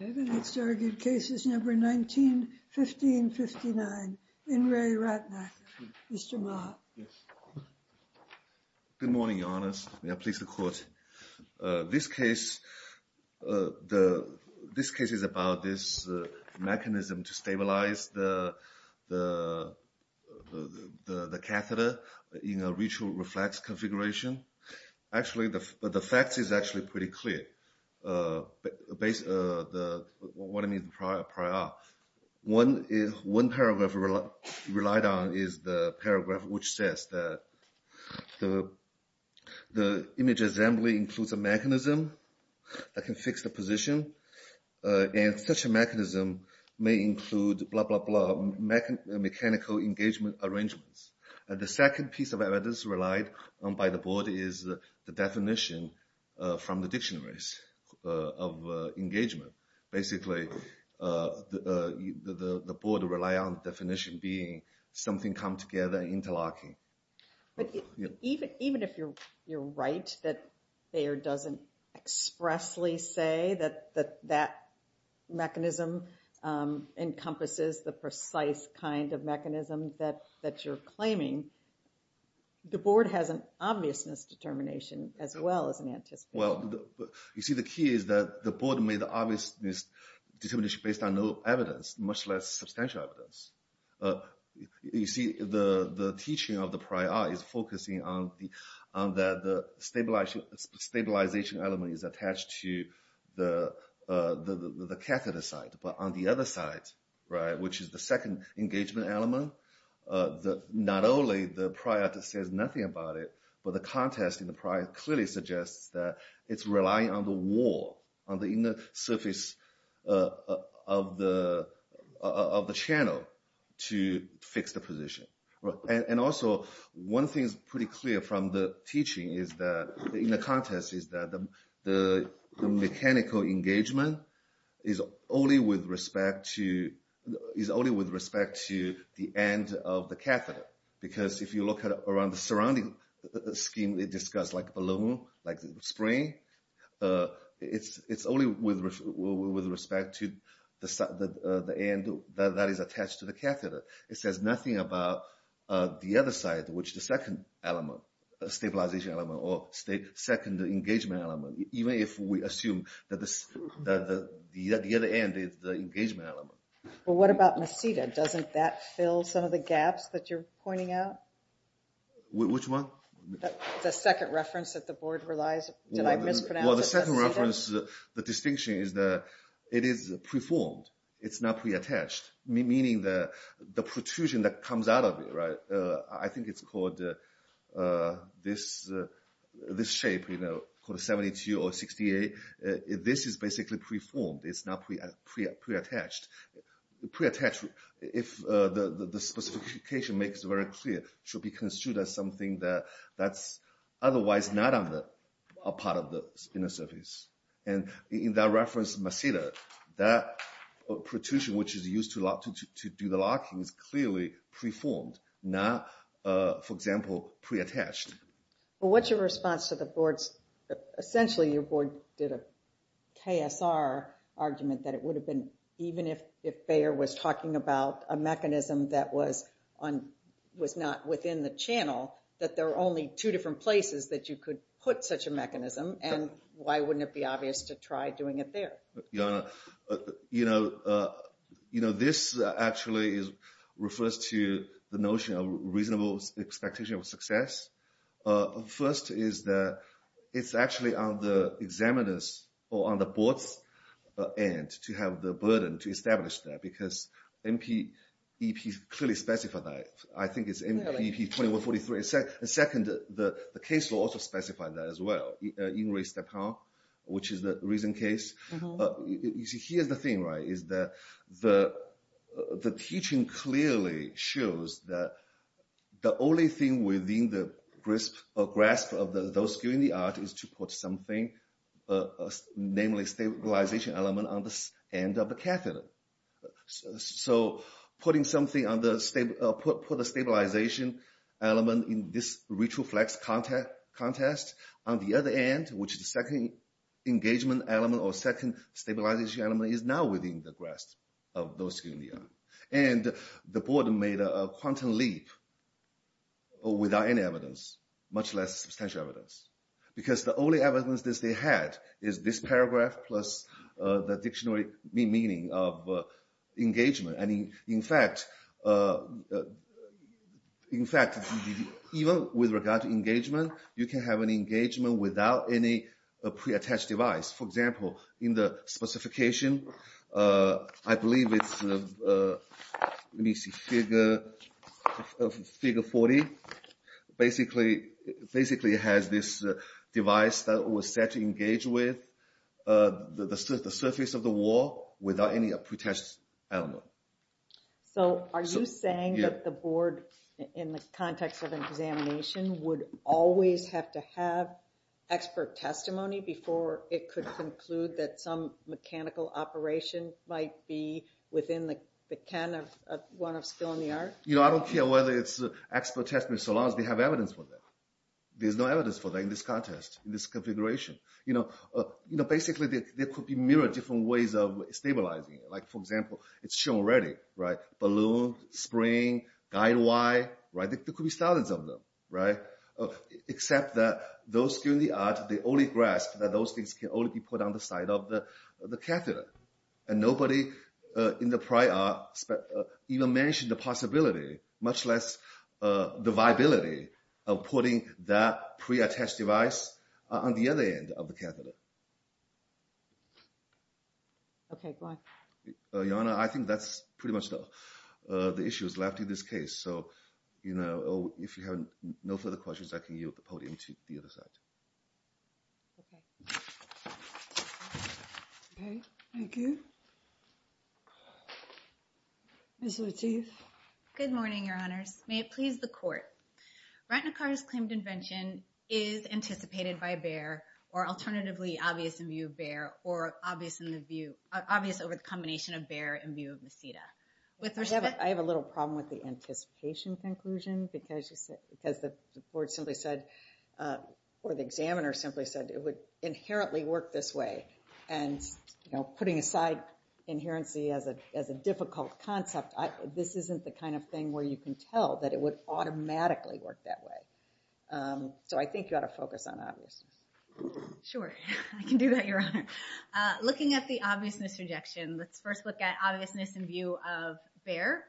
Good morning, Your Honours. I am pleased to quote. This case is about this mechanism to stabilize the catheter in a ritual reflex configuration. Actually, the facts is actually pretty clear. One paragraph relied on is the paragraph which says that the image assembly includes a mechanism that can fix the position and such a mechanism may include blah blah blah mechanical engagement arrangements. The second piece of evidence relied on by the board is the definition from the dictionaries of engagement. Basically, the board relied on the definition being something come together interlocking. Even if you're right that Bayer doesn't expressly say that that mechanism encompasses the precise kind of mechanism that you're claiming, the board has an obviousness determination as well as an anticipation. Well, you see the key is that the board made the obvious determination based on no evidence, much less substantial evidence. You see, the teaching of the prior is focusing on the stabilization element is attached to the catheter side. But on the other side, right, which is the second engagement element. Not only the prior that says nothing about it, but the contest in the prior clearly suggests that it's relying on the wall on the inner surface of the channel to fix the position. And also, one thing is pretty clear from the teaching is that in the contest is that the mechanical engagement is only with respect to the end of the catheter. Because if you look at it around the surrounding scheme we discussed, like balloon, like the spring, it's only with respect to the end that is attached to the catheter. It says nothing about the other side, which is the second element, stabilization element, or second engagement element. Even if we assume that the other end is the engagement element. Well, what about meseta? Doesn't that fill some of the gaps that you're pointing out? Which one? The second reference that the board relies on. Did I mispronounce meseta? Well, the second reference, the distinction is that it is preformed. It's not preattached, meaning the protrusion that comes out of it, right, I think it's called this shape, you know, called 72 or 68. This is basically preformed. It's not preattached. Preattached, if the specification makes it very clear, should be construed as something that's otherwise not a part of the inner surface. And in that reference, meseta, that protrusion which is used to do the locking is clearly preformed, not, for example, preattached. Well, what's your response to the board's, essentially your board did a KSR argument that it would have been, even if Bayer was talking about a mechanism that was not within the channel, that there are only two different places that you could put such a mechanism, and why wouldn't it be obvious to try doing it there? You know, this actually refers to the notion of reasonable expectation of success. First is that it's actually on the examiner's or on the board's end to have the burden to establish that, because MPEP clearly specified that. I think it's MPEP 2143. And second, the case law also specified that as well, in Ray Stephan, which is the recent case. You see, here's the thing, right, is that the teaching clearly shows that the only thing within the grasp of those doing the art is to put something, namely stabilization element on the end of the catheter. So putting something on the, put a stabilization element in this retroflex contest, on the other end, which is the second engagement element or second stabilization element, is now within the grasp of those doing the art. And the board made a quantum leap without any evidence, much less substantial evidence, because the only evidence that they had is this paragraph plus the dictionary meaning of engagement. And in fact, even with regard to engagement, you can have an engagement without any pre-attached device. For example, in the specification, I believe it's, let me see, figure 40, basically has this device that was set to engage with the surface of the wall without any pre-attached element. So are you saying that the board, in the context of examination, would always have to have expert testimony before it could conclude that some mechanical operation might be within the can of, one of skill in the art? You know, I don't care whether it's expert testimony so long as they have evidence for that. There's no evidence for that in this contest, in this configuration. You know, basically, there could be a myriad of different ways of stabilizing it. Like, for example, it's shown already, right? Balloon, spring, guide wire, right? There could be thousands of them, right? Except that those doing the art, they only grasp that those things can only be put on the side of the catheter. And nobody in the prior even mentioned the possibility, much less the viability, of putting that pre-attached device on the other end of the catheter. Okay, go on. Your Honor, I think that's pretty much the issues left in this case. So, you know, if you have no further questions, I can yield the podium to the other side. Okay. Okay, thank you. Ms. Lateef. Good morning, Your Honors. May it please the Court. Ratnakar's claimed invention is anticipated by Baer, or alternatively obvious in view of Baer, or obvious in the view, obvious over the combination of Baer and view of Mesita. I have a little problem with the anticipation conclusion, because the board simply said, or the examiner simply said, it would inherently work this way. And, you know, putting aside inherency as a difficult concept, this isn't the kind of thing where you can tell that it would automatically work that way. So I think you ought to focus on obviousness. Sure, I can do that, Your Honor. Looking at the obviousness rejection, let's first look at obviousness in view of Baer.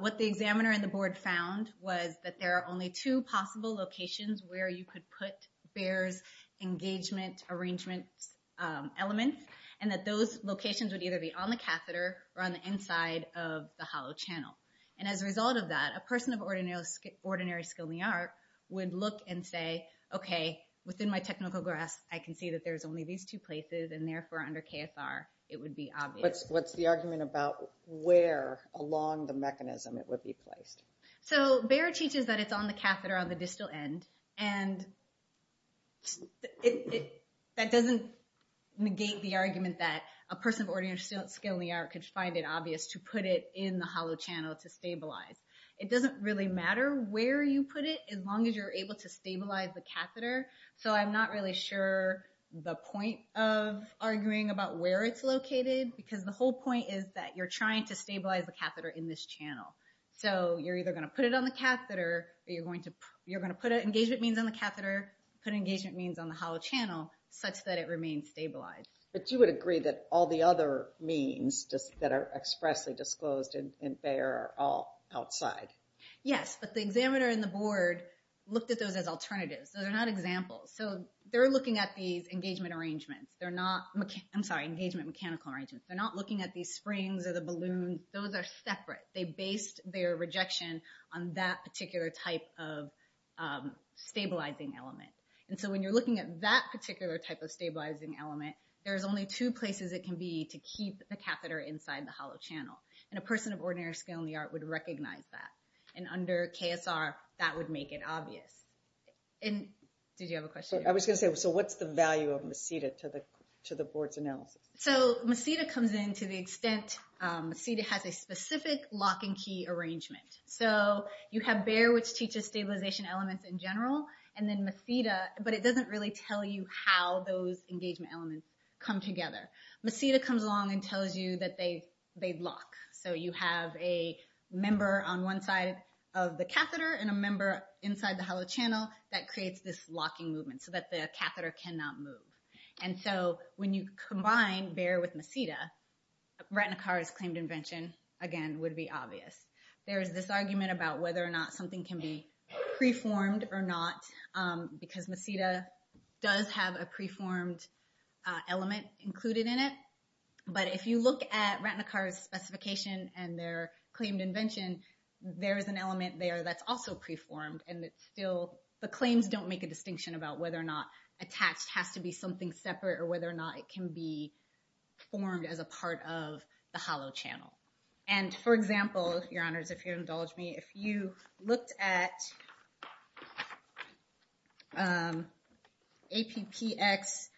What the examiner and the board found was that there are only two possible locations where you could put Baer's engagement arrangements elements, and that those locations would either be on the catheter or on the inside of the hollow channel. And as a result of that, a person of ordinary skill in the art would look and say, okay, within my technical grasp, I can see that there's only these two places, and therefore under KSR, it would be obvious. What's the argument about where along the mechanism it would be placed? So Baer teaches that it's on the catheter on the distal end, and that doesn't negate the argument that a person of ordinary skill in the art could find it obvious to put it in the hollow channel to stabilize. It doesn't really matter where you put it as long as you're able to stabilize the catheter. So I'm not really sure the point of arguing about where it's located, because the whole point is that you're trying to stabilize the catheter in this channel. So you're either going to put it on the catheter, or you're going to put engagement means on the catheter, put engagement means on the hollow channel, such that it remains stabilized. But you would agree that all the other means that are expressly disclosed in Baer are all outside? Yes, but the examiner and the board looked at those as alternatives. So they're not examples. So they're looking at these engagement arrangements. They're not, I'm sorry, engagement mechanical arrangements. They're not looking at these springs or the balloons. Those are separate. They based their rejection on that particular type of stabilizing element. And so when you're looking at that particular type of stabilizing element, there's only two places it can be to keep the catheter inside the hollow channel. And a person of ordinary skill in the art would recognize that. And under KSR, that would make it obvious. And did you have a question? I was going to say, so what's the value of MACEDA to the board's analysis? So MACEDA comes in to the extent, MACEDA has a specific lock and key arrangement. So you have Baer, which teaches stabilization elements in general, and then MACEDA, but it doesn't really tell you how those engagement elements come together. MACEDA comes along and tells you that they lock. So you have a member on one side of the catheter and a member inside the hollow channel that creates this locking movement so that the catheter cannot move. And so when you combine Baer with MACEDA, Ratnakar's claimed invention, again, would be obvious. There is this argument about whether or not something can be preformed or not, because MACEDA does have a preformed element included in it. But if you look at Ratnakar's specification and their claimed invention, there is an element there that's also preformed. And it's still, the claims don't make a distinction about whether or not attached has to be something separate or whether or not it can be formed as a part of the hollow channel. And for example, your honors, if you indulge me, if you looked at APPX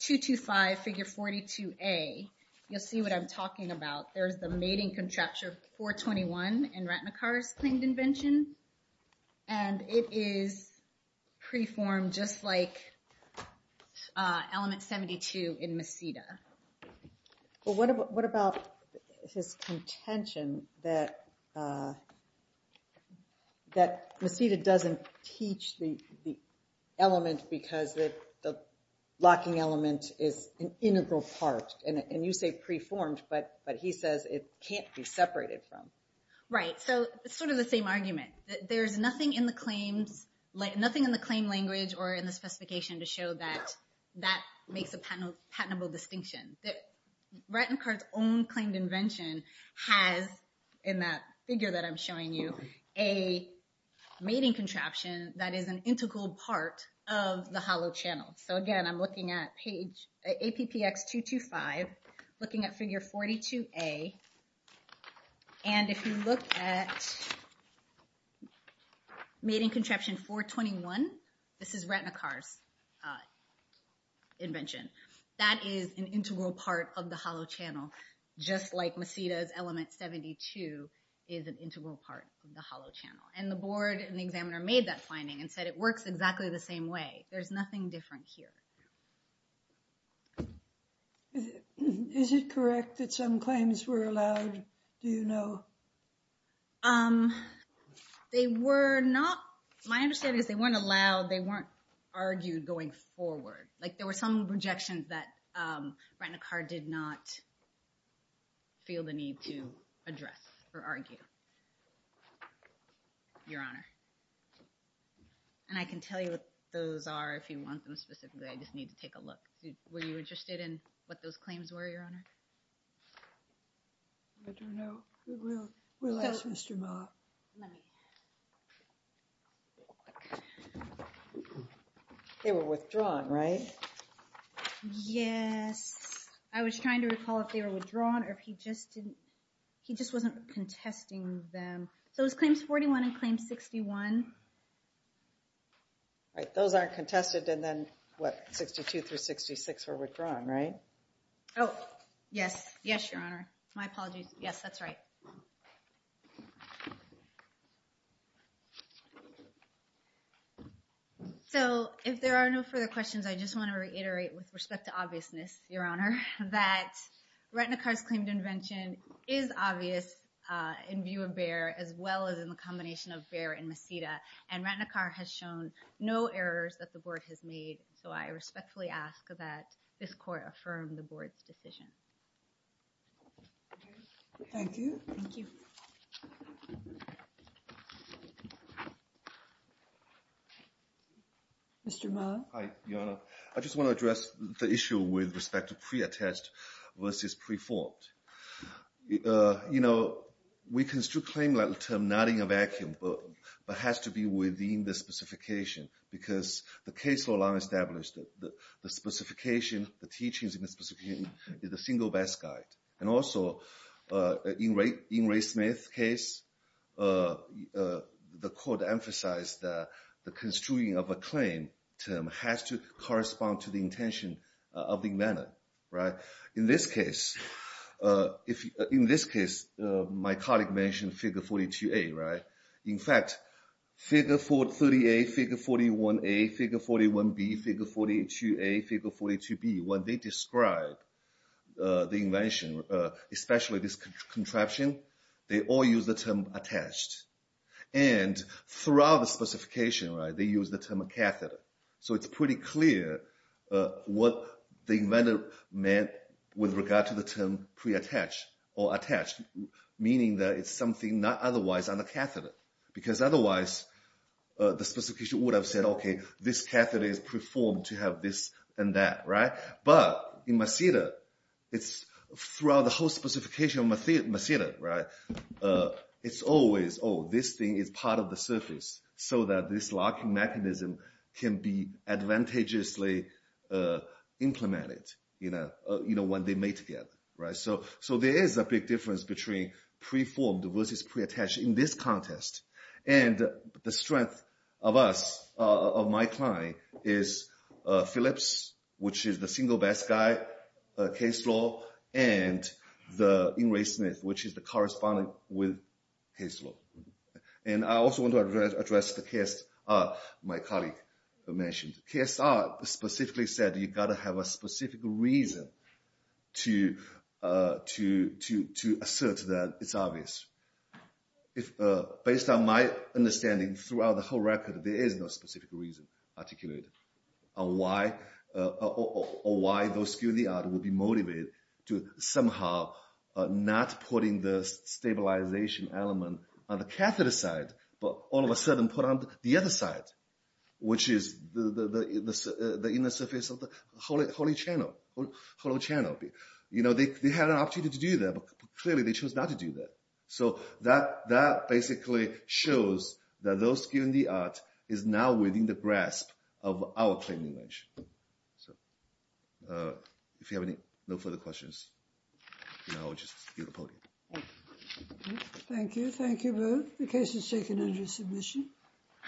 225 figure 42A, you'll see what I'm talking about. There's the mating contracture 421 in Ratnakar's claimed invention. And it is preformed just like element 72 in MACEDA. Well, what about his contention that MACEDA doesn't teach the element because the locking element is an integral part? And you say preformed, but he says it can't be separated from. Right, so it's sort of the same argument. There's nothing in the claim language or in the specification to show that that makes a patentable distinction. Ratnakar's own claimed invention has, in that figure that I'm showing you, a mating contraption that is an integral part of the hollow channel. So again, I'm looking at APPX 225, looking at figure 42A, and if you look at mating contraption 421, this is Ratnakar's invention. That is an integral part of the hollow channel, just like MACEDA's element 72 is an integral part of the hollow channel. And the board and the examiner made that finding and said it works exactly the same way. There's nothing different here. Is it correct that some claims were allowed? Do you know? They were not. My understanding is they weren't allowed. They weren't argued going forward. There were some projections that Ratnakar did not feel the need to address or argue, Your Honor. And I can tell you what those are if you want them specifically. I just need to take a look. Were you interested in what those claims were, Your Honor? I don't know. We'll ask Mr. Ma. They were withdrawn, right? Yes. I was trying to recall if they were withdrawn or if he just wasn't contesting them. So it was claims 41 and claims 61. Right. Those aren't contested and then what, 62 through 66 were withdrawn, right? Oh, yes. Yes, Your Honor. My apologies. Yes, that's right. So if there are no further questions, I just want to reiterate with respect to obviousness, Your Honor, that Ratnakar's claim to invention is obvious in view of Bayer as well as in the combination of Bayer and Maceda. And Ratnakar has shown no errors that the board has made. So I respectfully ask that this court affirm the board's decision. Thank you. Thank you. Mr. Ma? Hi, Your Honor. I just want to address the issue with respect to pre-attest versus pre-formed. You know, we can still claim that term not in a vacuum, but has to be within the specification because the case law established that the specification, the teachings in the specification is the single best guide. And also, in Ray Smith's case, the court emphasized that the construing of a claim term has to correspond to the intention of the inventor. Right. In this case, my colleague mentioned figure 42A, right? In fact, figure 38, figure 41A, figure 41B, figure 42A, figure 42B, when they describe the invention, especially this contraption, they all use the term attached. And throughout the specification, right, they use the term catheter. So it's pretty clear what the inventor meant with regard to the term pre-attached or attached, meaning that it's something not otherwise on the catheter. Because otherwise, the specification would have said, okay, this catheter is pre-formed to have this and that, right? But in Masida, it's throughout the whole specification of Masida, right, it's always, oh, this thing is part of the surface so that this locking mechanism can be advantageously implemented, you know, when they're made together, right? So there is a big difference between pre-formed versus pre-attached in this contest. And the strength of us, of my client, is Philips, which is the single best guy case law, and the Ingray-Smith, which is the correspondent with case law. And I also want to address the KSR my colleague mentioned. KSR specifically said you've got to have a specific reason to assert that it's obvious. Based on my understanding throughout the whole record, there is no specific reason articulated on why those skill in the art will be motivated to somehow not putting the stabilization element on the catheter side, but all of a sudden put on the other side, which is the inner surface of the holy channel. You know, they had an opportunity to do that, but clearly they chose not to do that. So that basically shows that those skill in the art is now within the grasp of our claim language. So if you have no further questions, you know, I'll just give the podium. Thank you. Thank you both. The case is taken under submission.